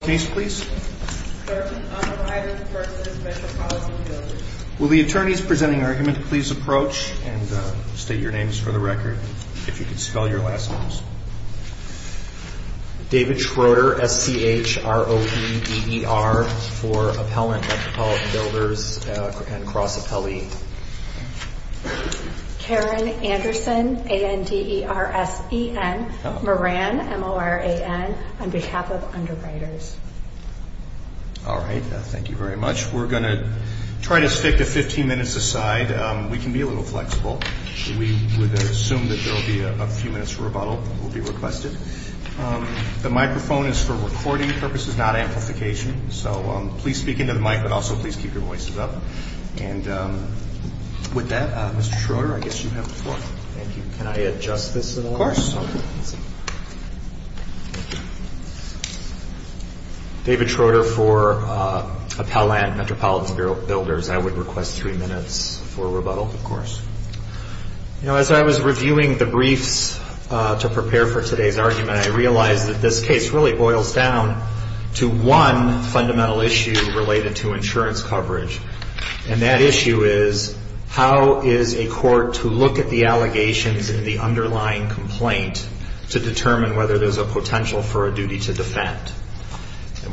Will the attorneys presenting argument please approach and state your names for the record, if you could spell your last names. David Schroeder for Appellant Metropolitan Builders and Cross Appellee. Karen Anderson on behalf of Underwriters. Thank you very much. We're going to try to stick the 15 minutes aside. We can be a little flexible. We would assume that there will be a few minutes for rebuttal will be requested. The microphone is for recording purposes, not amplification. So please speak into the mic, but also please keep your voices up. With that, Mr. Schroeder, I guess you have the floor. David Schroeder for Appellant Metropolitan Builders. I would request three minutes for rebuttal. As I was reviewing the briefs to prepare for today's argument, I realized that this case really boils down to one fundamental issue related to insurance coverage. And that issue is, how is a court to look at the allegations in the underlying complaint to determine whether there's a potential for a duty to defend?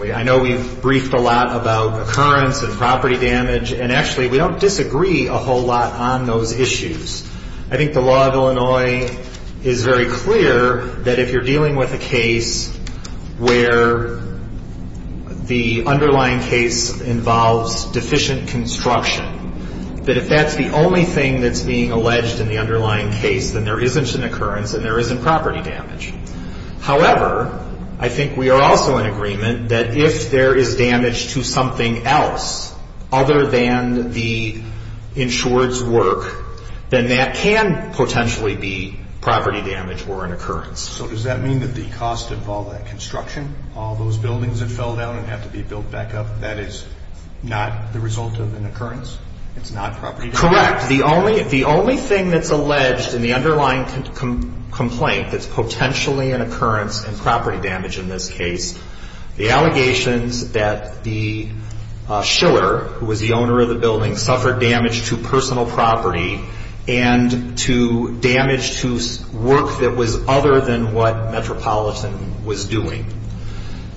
I know we've briefed a lot about occurrence and property damage, and actually we don't disagree a whole lot on those issues. I think the law of Illinois is very clear that if you're dealing with a case where the underlying case involves deficient construction, that if that's the only thing that's being alleged in the underlying case, then there isn't an occurrence and there isn't property damage. However, I think we are also in agreement that if there is damage to something else other than the insured's work, then that can potentially be property damage or an occurrence. So does that mean that the cost of all that construction, all those buildings that fell down and have to be built back up, that is not the result of an occurrence? It's not property damage? Correct. The only thing that's alleged in the underlying complaint that's potentially an occurrence and property damage in this case, the allegations that the shiller, who was the owner of the building, suffered damage to personal property and to damage to work that was other than what Metropolitan was doing.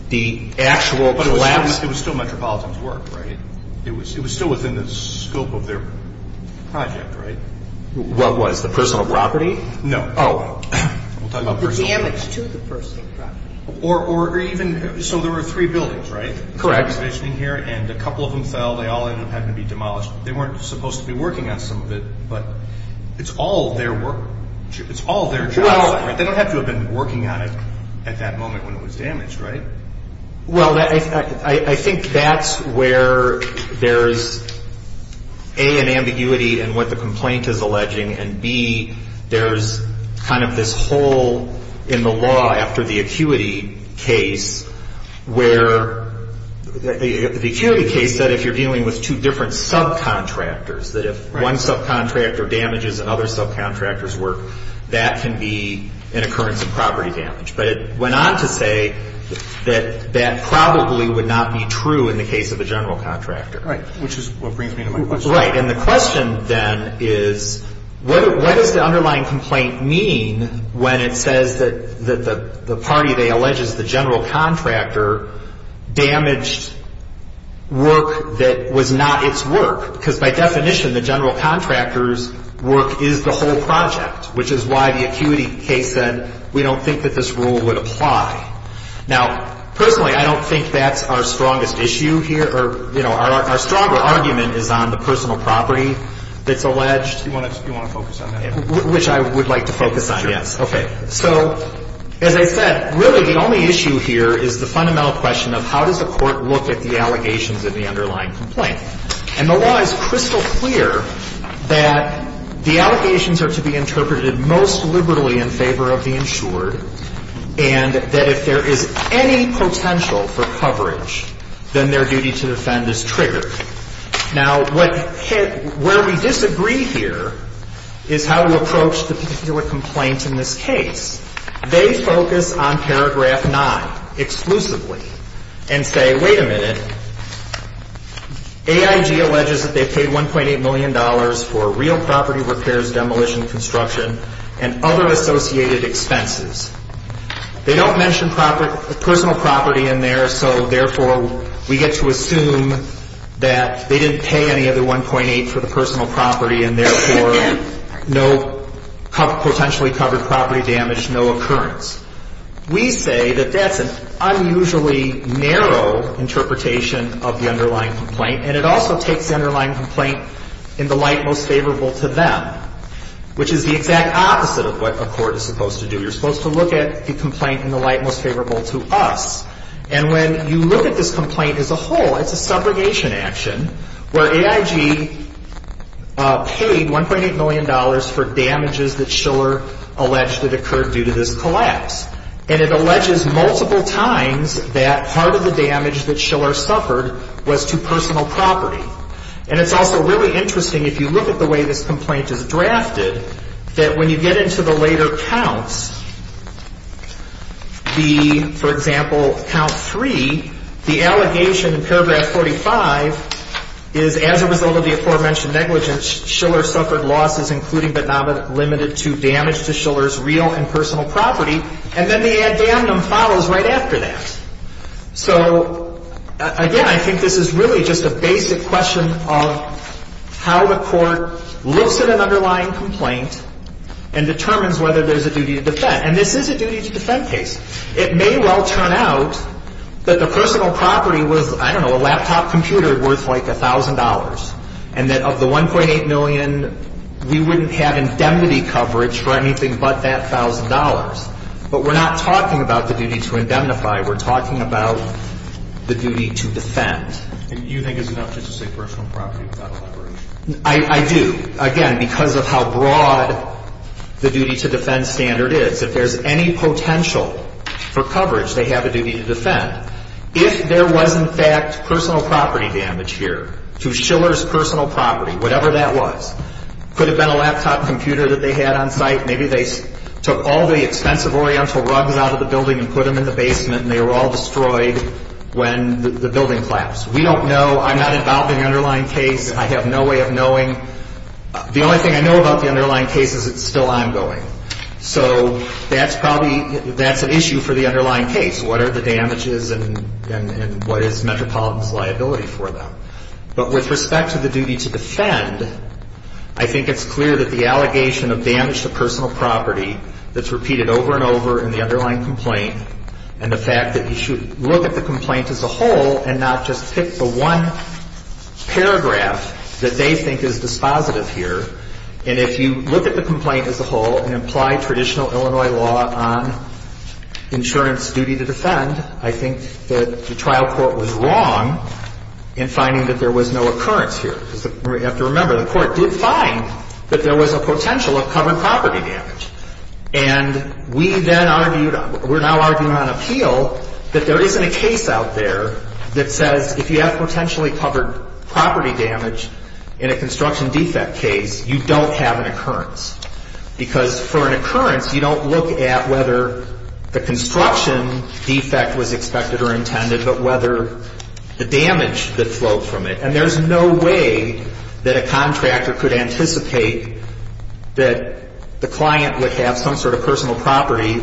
But it was still Metropolitan's work, right? It was still within the scope of their project, right? What was? The personal property? No. Oh. The damage to the personal property. So there were three buildings, right? Correct. And a couple of them fell. They all ended up having to be demolished. They weren't supposed to be working on some of it, but it's all their work. It's all their job. They don't have to have been working on it at that moment when it was damaged, right? Well, I think that's where there's A, an ambiguity in what the complaint is alleging, and B, there's kind of this hole in the law after the acuity case where the acuity case said if you're dealing with two different subcontractors, that if one subcontractor damages another subcontractor's work, that can be an occurrence of property damage. But it went on to say that that probably would not be true in the case of a general contractor. Right, which is what brings me to my question. Right, and the question then is what does the underlying complaint mean when it says that the party they allege is the general contractor damaged work that was not its work? Because by definition, the general contractor's work is the whole project, which is why the acuity case said we don't think that this rule would apply. Now, personally, I don't think that's our strongest issue here or, you know, our stronger argument is on the personal property that's alleged. You want to focus on that? Which I would like to focus on, yes. Sure. Okay. So as I said, really the only issue here is the fundamental question of how does the court look at the allegations in the underlying complaint? And the law is crystal clear that the allegations are to be interpreted most liberally in favor of the insured and that if there is any potential for coverage, then their duty to defend is triggered. Now, where we disagree here is how we approach the particular complaint in this case. They focus on paragraph 9 exclusively and say, wait a minute, AIG alleges that they paid $1.8 million for real property repairs, demolition, construction, and other associated expenses. They don't mention personal property in there, so therefore we get to assume that they didn't pay any of the 1.8 for the personal property and therefore no potentially covered property damage, no occurrence. We say that that's an unusually narrow interpretation of the underlying complaint and it also takes the underlying complaint in the light most favorable to them, which is the exact opposite of what a court is supposed to do. You're supposed to look at the complaint in the light most favorable to us. And when you look at this complaint as a whole, it's a subrogation action, where AIG paid $1.8 million for damages that Schiller alleged that occurred due to this collapse. And it alleges multiple times that part of the damage that Schiller suffered was to personal property. And it's also really interesting, if you look at the way this complaint is drafted, that when you get into the later counts, the, for example, count three, the allegation in paragraph 45 is as a result of the aforementioned negligence, Schiller suffered losses including but not limited to damage to Schiller's real and personal property. And then the ad damnum follows right after that. So, again, I think this is really just a basic question of how the court looks at an underlying complaint and determines whether there's a duty to defend. And this is a duty to defend case. It may well turn out that the personal property was, I don't know, a laptop computer worth like $1,000 and that of the $1.8 million, we wouldn't have indemnity coverage for anything but that $1,000. But we're not talking about the duty to indemnify. We're talking about the duty to defend. And you think it's enough just to say personal property without a liberation? I do. Again, because of how broad the duty to defend standard is. If there's any potential for coverage, they have a duty to defend. If there was, in fact, personal property damage here to Schiller's personal property, whatever that was, could have been a laptop computer that they had on site. Maybe they took all the expensive Oriental rugs out of the building and put them in the basement and they were all destroyed when the building collapsed. We don't know. I'm not involved in the underlying case. I have no way of knowing. The only thing I know about the underlying case is it's still ongoing. So that's probably, that's an issue for the underlying case. What are the damages and what is Metropolitan's liability for them? But with respect to the duty to defend, I think it's clear that the allegation of damage to personal property that's repeated over and over in the underlying complaint and the fact that you should look at the complaint as a whole and not just pick the one paragraph that they think is dispositive here. And if you look at the complaint as a whole and apply traditional Illinois law on insurance duty to defend, I think that the trial court was wrong in finding that there was no occurrence here. We have to remember the court did find that there was a potential of covered property damage. And we then argued, we're now arguing on appeal that there isn't a case out there that says if you have potentially covered property damage in a construction defect case, you don't have an occurrence. Because for an occurrence, you don't look at whether the construction defect was expected or intended, but whether the damage that flowed from it. And there's no way that a contractor could anticipate that the client would have some sort of personal property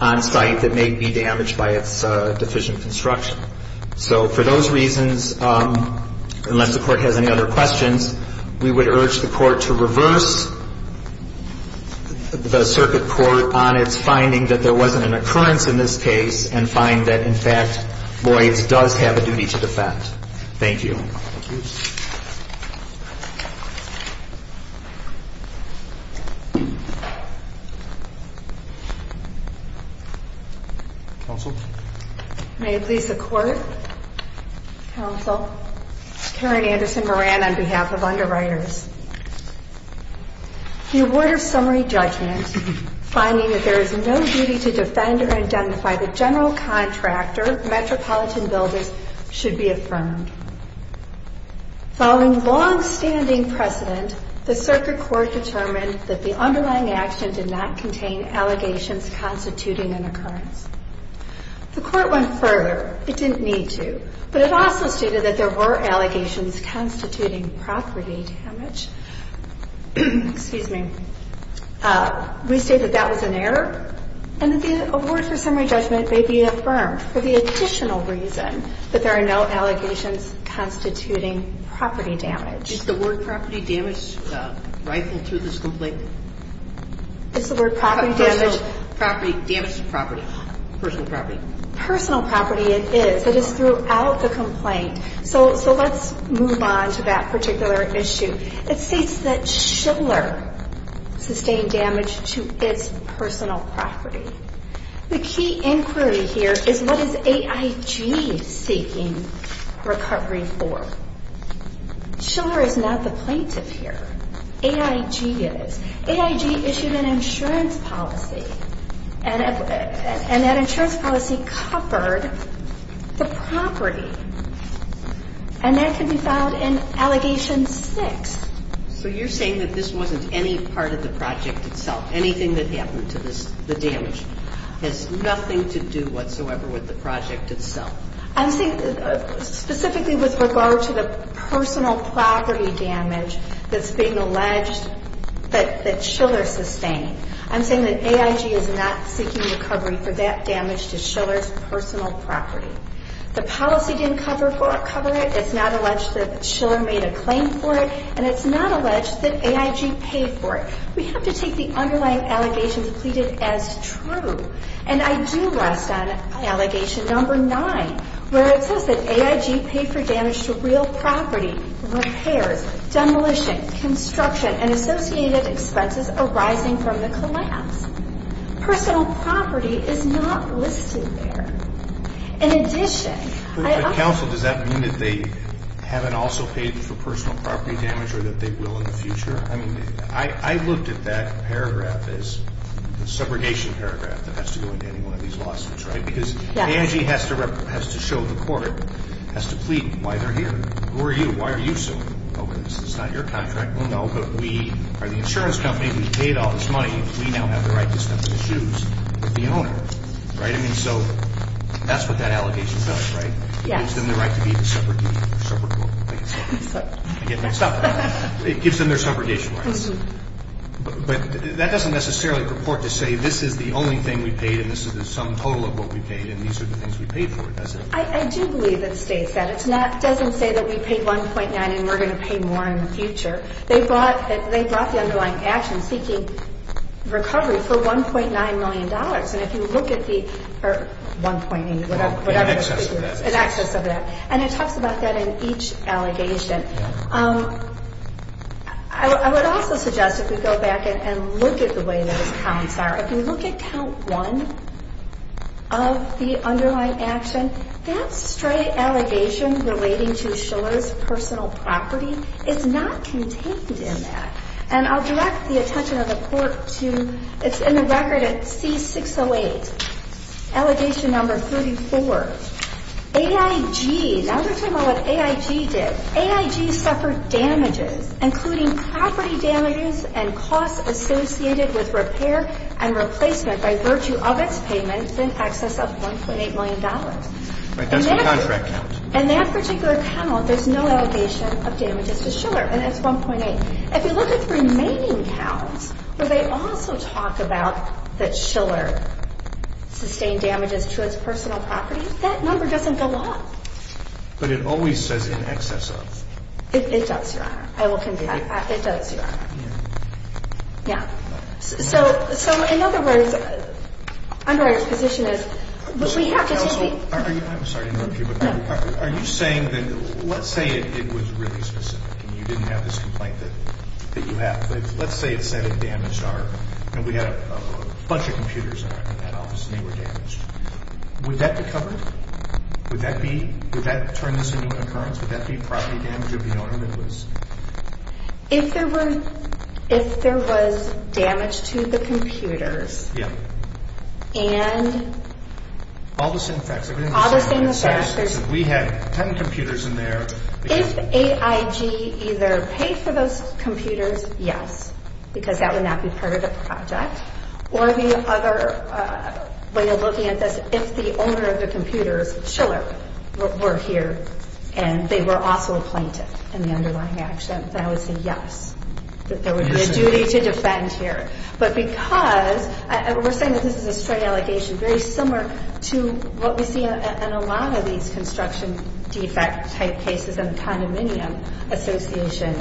on site that may be damaged by its deficient construction. So for those reasons, unless the Court has any other questions, we would urge the Court to reverse the circuit court on its finding that there wasn't an occurrence in this case and find that, in fact, Boyds does have a duty to defend. Thank you. Thank you. Counsel? May it please the Court? Counsel? Karen Anderson Moran on behalf of underwriters. The award of summary judgment, finding that there is no duty to defend or identify the general contractor, metropolitan builders, should be affirmed. Following longstanding precedent, the circuit court determined that the underlying action did not contain allegations constituting an occurrence. The Court went further. It didn't need to. But it also stated that there were allegations constituting property damage. Excuse me. We state that that was an error and that the award for summary judgment may be affirmed for the additional reason that there are no allegations constituting property damage. Is the word property damage rightful to this complaint? It's the word property damage. Property damage to property. Personal property. Personal property it is. It is throughout the complaint. So let's move on to that particular issue. It states that Schiller sustained damage to its personal property. The key inquiry here is what is AIG seeking recovery for? Schiller is not the plaintiff here. AIG is. AIG issued an insurance policy. And that insurance policy covered the property. And that can be found in Allegation 6. So you're saying that this wasn't any part of the project itself? Anything that happened to the damage has nothing to do whatsoever with the project itself? I'm saying specifically with regard to the personal property damage that's being alleged that Schiller sustained. I'm saying that AIG is not seeking recovery for that damage to Schiller's personal property. The policy didn't cover it. It's not alleged that Schiller made a claim for it. And it's not alleged that AIG paid for it. We have to take the underlying allegations pleaded as true. And I do rest on Allegation 9 where it says that AIG paid for damage to real property, repairs, demolition, construction, and associated expenses arising from the collapse. Personal property is not listed there. In addition. But counsel, does that mean that they haven't also paid for personal property damage or that they will in the future? I mean, I looked at that paragraph as a subrogation paragraph that has to go into any one of these lawsuits, right? Because AIG has to show the court, has to plead why they're here. Who are you? Why are you suing over this? It's not your contract. We'll know. But we are the insurance company. We paid all this money. We now have the right to step in the shoes of the owner. Right? And so that's what that allegation does, right? Yes. Gives them the right to be the subrogate. Subrogate. I get mixed up. It gives them their subrogation rights. But that doesn't necessarily purport to say this is the only thing we paid and this is the sum total of what we paid and these are the things we paid for. I do believe it states that. It doesn't say that we paid 1.9 and we're going to pay more in the future. They brought the underlying action seeking recovery for $1.9 million. And if you look at the 1.8, whatever. In excess of that. In excess of that. And it talks about that in each allegation. I would also suggest if we go back and look at the way those counts are, if you look at count one of the underlying action, that straight allegation relating to Shiller's personal property is not contained in that. And I'll direct the attention of the Court to it's in the record at C608, allegation number 34. AIG. Now we're talking about what AIG did. AIG suffered damages, including property damages and costs associated with repair and replacement by virtue of its payments in excess of $1.8 million. Right. That's the contract count. In that particular count, there's no allegation of damages to Shiller and it's 1.8. If you look at the remaining counts where they also talk about that Shiller sustained damages to its personal property, that number doesn't go up. But it always says in excess of. It does, Your Honor. I will convince you. It does, Your Honor. Yeah. Yeah. So in other words, underwriter's position is we have to take the. I'm sorry to interrupt you, but are you saying that let's say it was really specific and you didn't have this complaint that you have. Let's say it said it damaged our. We had a bunch of computers in that office and they were damaged. Would that be covered? Would that be. Would that turn this into an occurrence? Would that be property damage of the owner that was. If there were. If there was damage to the computers. Yeah. And. All the same facts. All the same facts. We had 10 computers in there. If AIG either paid for those computers, yes. Because that would not be part of the project. Or the other way of looking at this, if the owner of the computers, Schiller, were here and they were also a plaintiff in the underlying action, that would say yes. That there would be a duty to defend here. But because we're saying that this is a straight allegation, very similar to what we see in a lot of these construction defect type cases and condominium association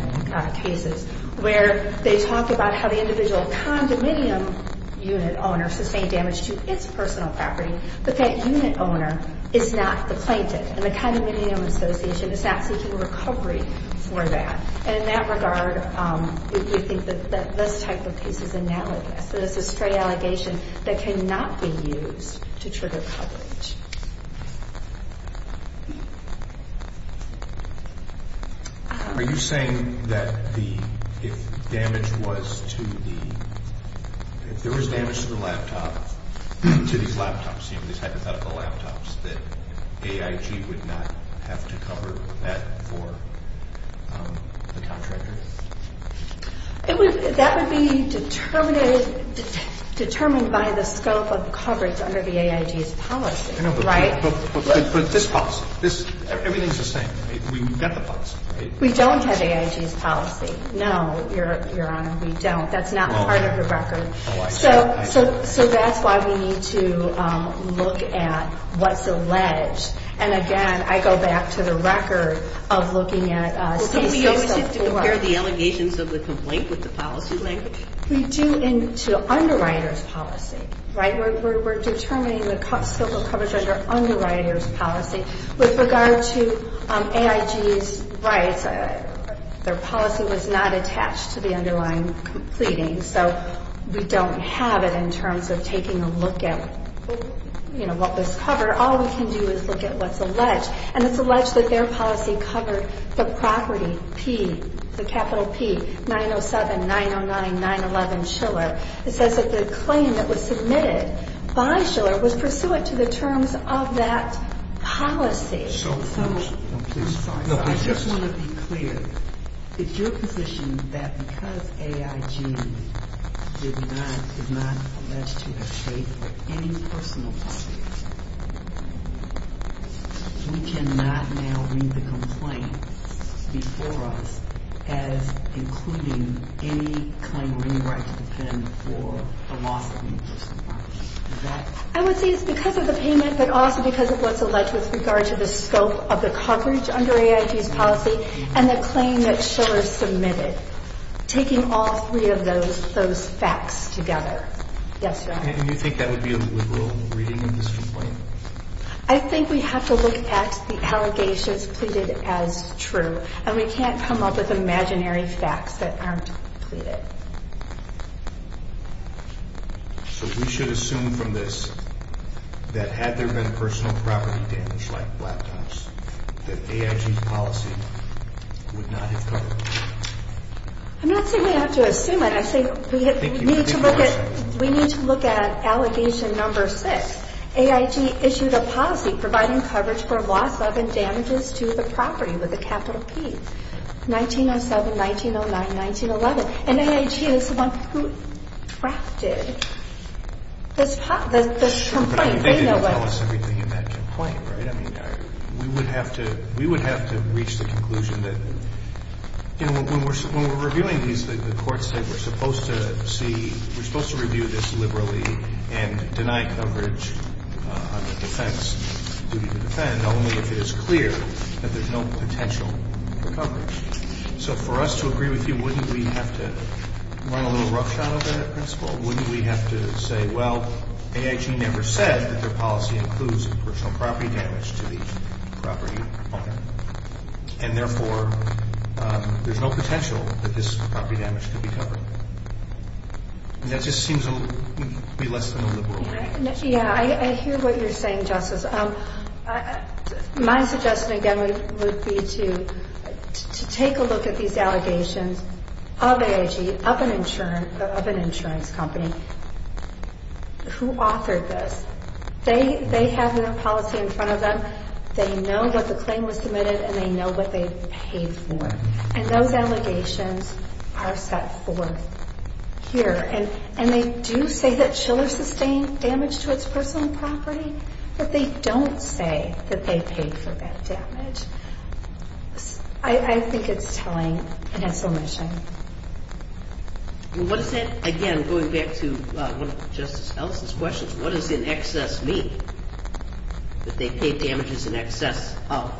cases. Where they talk about how the individual condominium unit owner sustained damage to its personal property. But that unit owner is not the plaintiff. And the condominium association is not seeking recovery for that. And in that regard, we think that this type of case is analogous. That it's a straight allegation that cannot be used to trigger coverage. Are you saying that if damage was to the, if there was damage to the laptop, to these laptops, these hypothetical laptops, that AIG would not have to cover that for the contractor? That would be determined by the scope of coverage under the AIG's policy. Right? But this policy. Everything's the same. We've got the policy. We don't have AIG's policy. No, Your Honor, we don't. That's not part of the record. Oh, I see. So that's why we need to look at what's alleged. And again, I go back to the record of looking at state-serviced software. Do you compare the allegations of the complaint with the policy language? We do into underwriters' policy. Right? We're determining the scope of coverage under underwriters' policy. With regard to AIG's rights, their policy was not attached to the underlying completing. So we don't have it in terms of taking a look at, you know, what was covered. All we can do is look at what's alleged. And it's alleged that their policy covered the property P, the capital P, 907-909-911 Schiller. It says that the claim that was submitted by Schiller was pursuant to the terms of that policy. So, please. I'm sorry. I just want to be clear. It's your position that because AIG is not alleged to have paid for any personal property, we cannot now read the complaint before us as including any claim or any right to defend for the loss of any personal property. Is that correct? I would say it's because of the payment, but also because of what's alleged with regard to the scope of the coverage under AIG's policy and the claim that Schiller submitted, taking all three of those facts together. Yes, sir. And you think that would be a liberal reading of this complaint? I think we have to look at the allegations pleaded as true. And we can't come up with imaginary facts that aren't pleaded. So, we should assume from this that had there been personal property damage like black dumps, that AIG's policy would not have covered it? I'm not saying we have to assume it. I say we need to look at allegation number six. AIG issued a policy providing coverage for loss of and damages to the property with a capital P, 907-1909-1911. And AIG is the one who drafted this complaint. Sure, but they didn't tell us everything in that complaint, right? I mean, we would have to reach the conclusion that, you know, when we're reviewing these, the courts say we're supposed to see, we're supposed to review this liberally and deny coverage under defense, duty to defend, only if it is clear that there's no potential for coverage. So, for us to agree with you, wouldn't we have to run a little roughshod over that principle? Wouldn't we have to say, well, AIG never said that their policy includes personal property damage to the property owner? And, therefore, there's no potential that this property damage could be covered. That just seems to be less than a liberal view. Yeah, I hear what you're saying, Justice. My suggestion, again, would be to take a look at these allegations of AIG, of an insurance company, who authored this. They have their policy in front of them. They know that the claim was submitted, and they know what they paid for. And those allegations are set forth here. And they do say that Shiller sustained damage to its personal property, but they don't say that they paid for that damage. I think it's telling and a solution. Well, what does that, again, going back to one of Justice Ellison's questions, what does in excess mean, that they paid damages in excess of?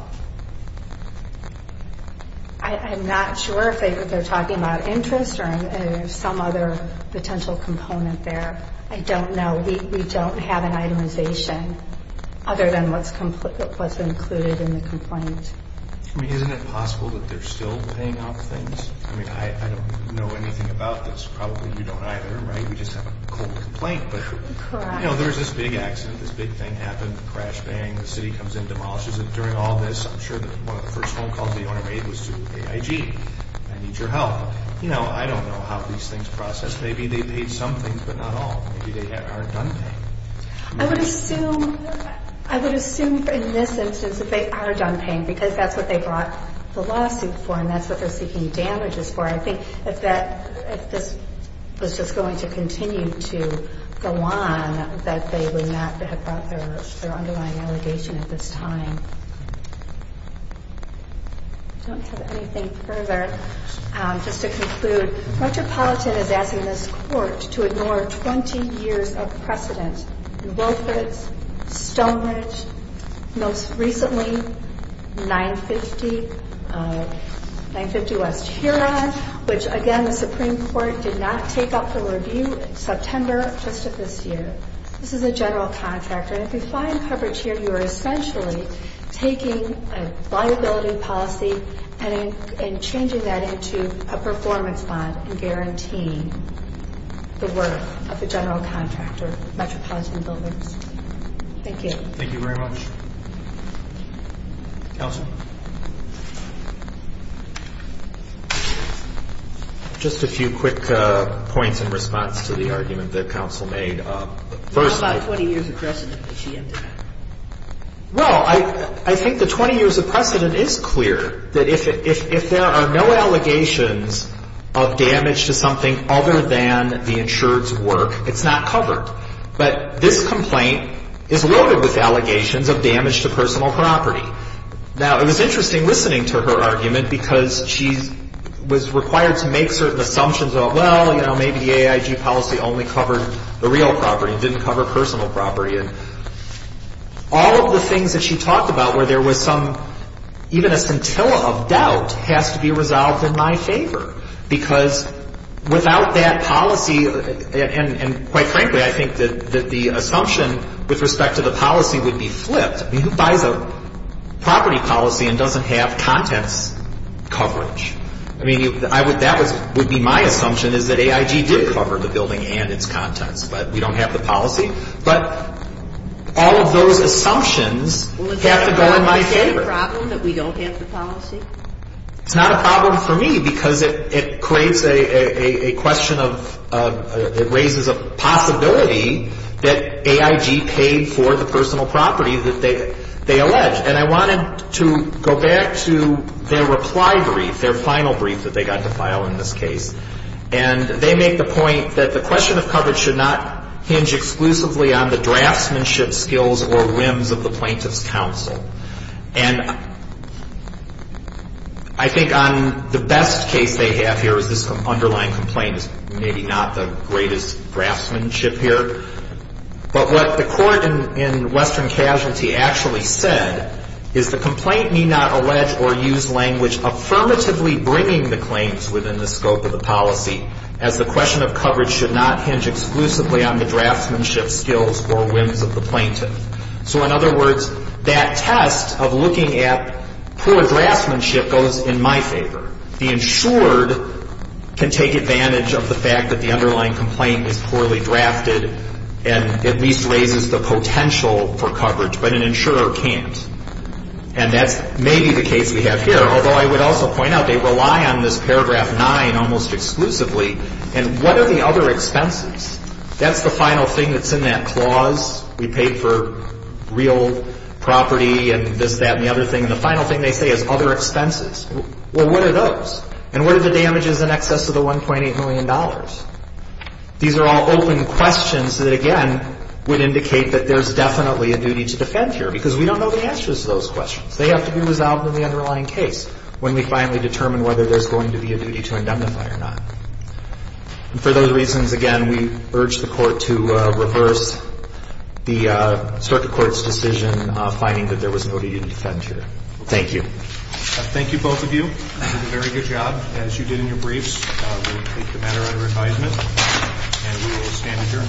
I'm not sure if they're talking about interest or some other potential component there. I don't know. We don't have an itemization other than what's included in the complaint. I mean, isn't it possible that they're still paying off things? I mean, I don't know anything about this. Probably you don't either, right? We just have a cold complaint. But, you know, there was this big accident. This big thing happened. Crash, bang, the city comes in, demolishes it. During all this, I'm sure that one of the first phone calls the owner made was to AIG. I need your help. You know, I don't know how these things process. Maybe they paid some things, but not all. Maybe they aren't done paying. I would assume in this instance that they are done paying because that's what they brought the lawsuit for, and that's what they're seeking damages for. I think if this was just going to continue to go on, that they would not have brought their underlying allegation at this time. I don't have anything further. Just to conclude, Metropolitan is asking this court to ignore 20 years of precedent in Wilfrid's, Stonebridge, most recently 950, 950 West Huron, which, again, the Supreme Court did not take up for review in September of just this year. This is a general contractor. And if you find coverage here, you are essentially taking a liability policy and changing that into a performance bond and guaranteeing the worth of the general contractor, Metropolitan Buildings. Thank you. Thank you very much. Counsel? Just a few quick points in response to the argument that counsel made. First of all — How about 20 years of precedent that she ended up? Well, I think the 20 years of precedent is clear, that if there are no allegations of damage to something other than the insured's work, it's not covered. But this complaint is loaded with allegations of damage to personal property. Now, it was interesting listening to her argument because she was required to make certain assumptions of, well, you know, I mean, the AIG policy only covered the real property. It didn't cover personal property. And all of the things that she talked about where there was some — even a scintilla of doubt has to be resolved in my favor. Because without that policy — and quite frankly, I think that the assumption with respect to the policy would be flipped. I mean, who buys a property policy and doesn't have contents coverage? I mean, that would be my assumption, is that AIG did cover the building and its contents, but we don't have the policy. But all of those assumptions have to go in my favor. Well, is that a problem, that we don't have the policy? It's not a problem for me because it creates a question of — it raises a possibility that AIG paid for the personal property that they alleged. And I wanted to go back to their reply brief, their final brief that they got to file in this case. And they make the point that the question of coverage should not hinge exclusively on the draftsmanship skills or whims of the plaintiff's counsel. And I think on the best case they have here is this underlying complaint is maybe not the greatest draftsmanship here. But what the court in Western Casualty actually said is the complaint need not allege or use language affirmatively bringing the claims within the scope of the policy, as the question of coverage should not hinge exclusively on the draftsmanship skills or whims of the plaintiff. So in other words, that test of looking at poor draftsmanship goes in my favor. The insured can take advantage of the fact that the underlying complaint is poorly drafted and at least raises the potential for coverage, but an insurer can't. And that's maybe the case we have here, although I would also point out they rely on this paragraph 9 almost exclusively. And what are the other expenses? That's the final thing that's in that clause. We paid for real property and this, that, and the other thing. And the final thing they say is other expenses. Well, what are those? And what are the damages in excess of the $1.8 million? These are all open questions that, again, would indicate that there's definitely a duty to defend here because we don't know the answers to those questions. They have to be resolved in the underlying case when we finally determine whether there's going to be a duty to indemnify or not. And for those reasons, again, we urge the Court to reverse the circuit court's decision finding that there was no duty to defend here. Thank you. Thank you, both of you. You did a very good job, as you did in your briefs. We'll take the matter under advisement and we will stand adjourned.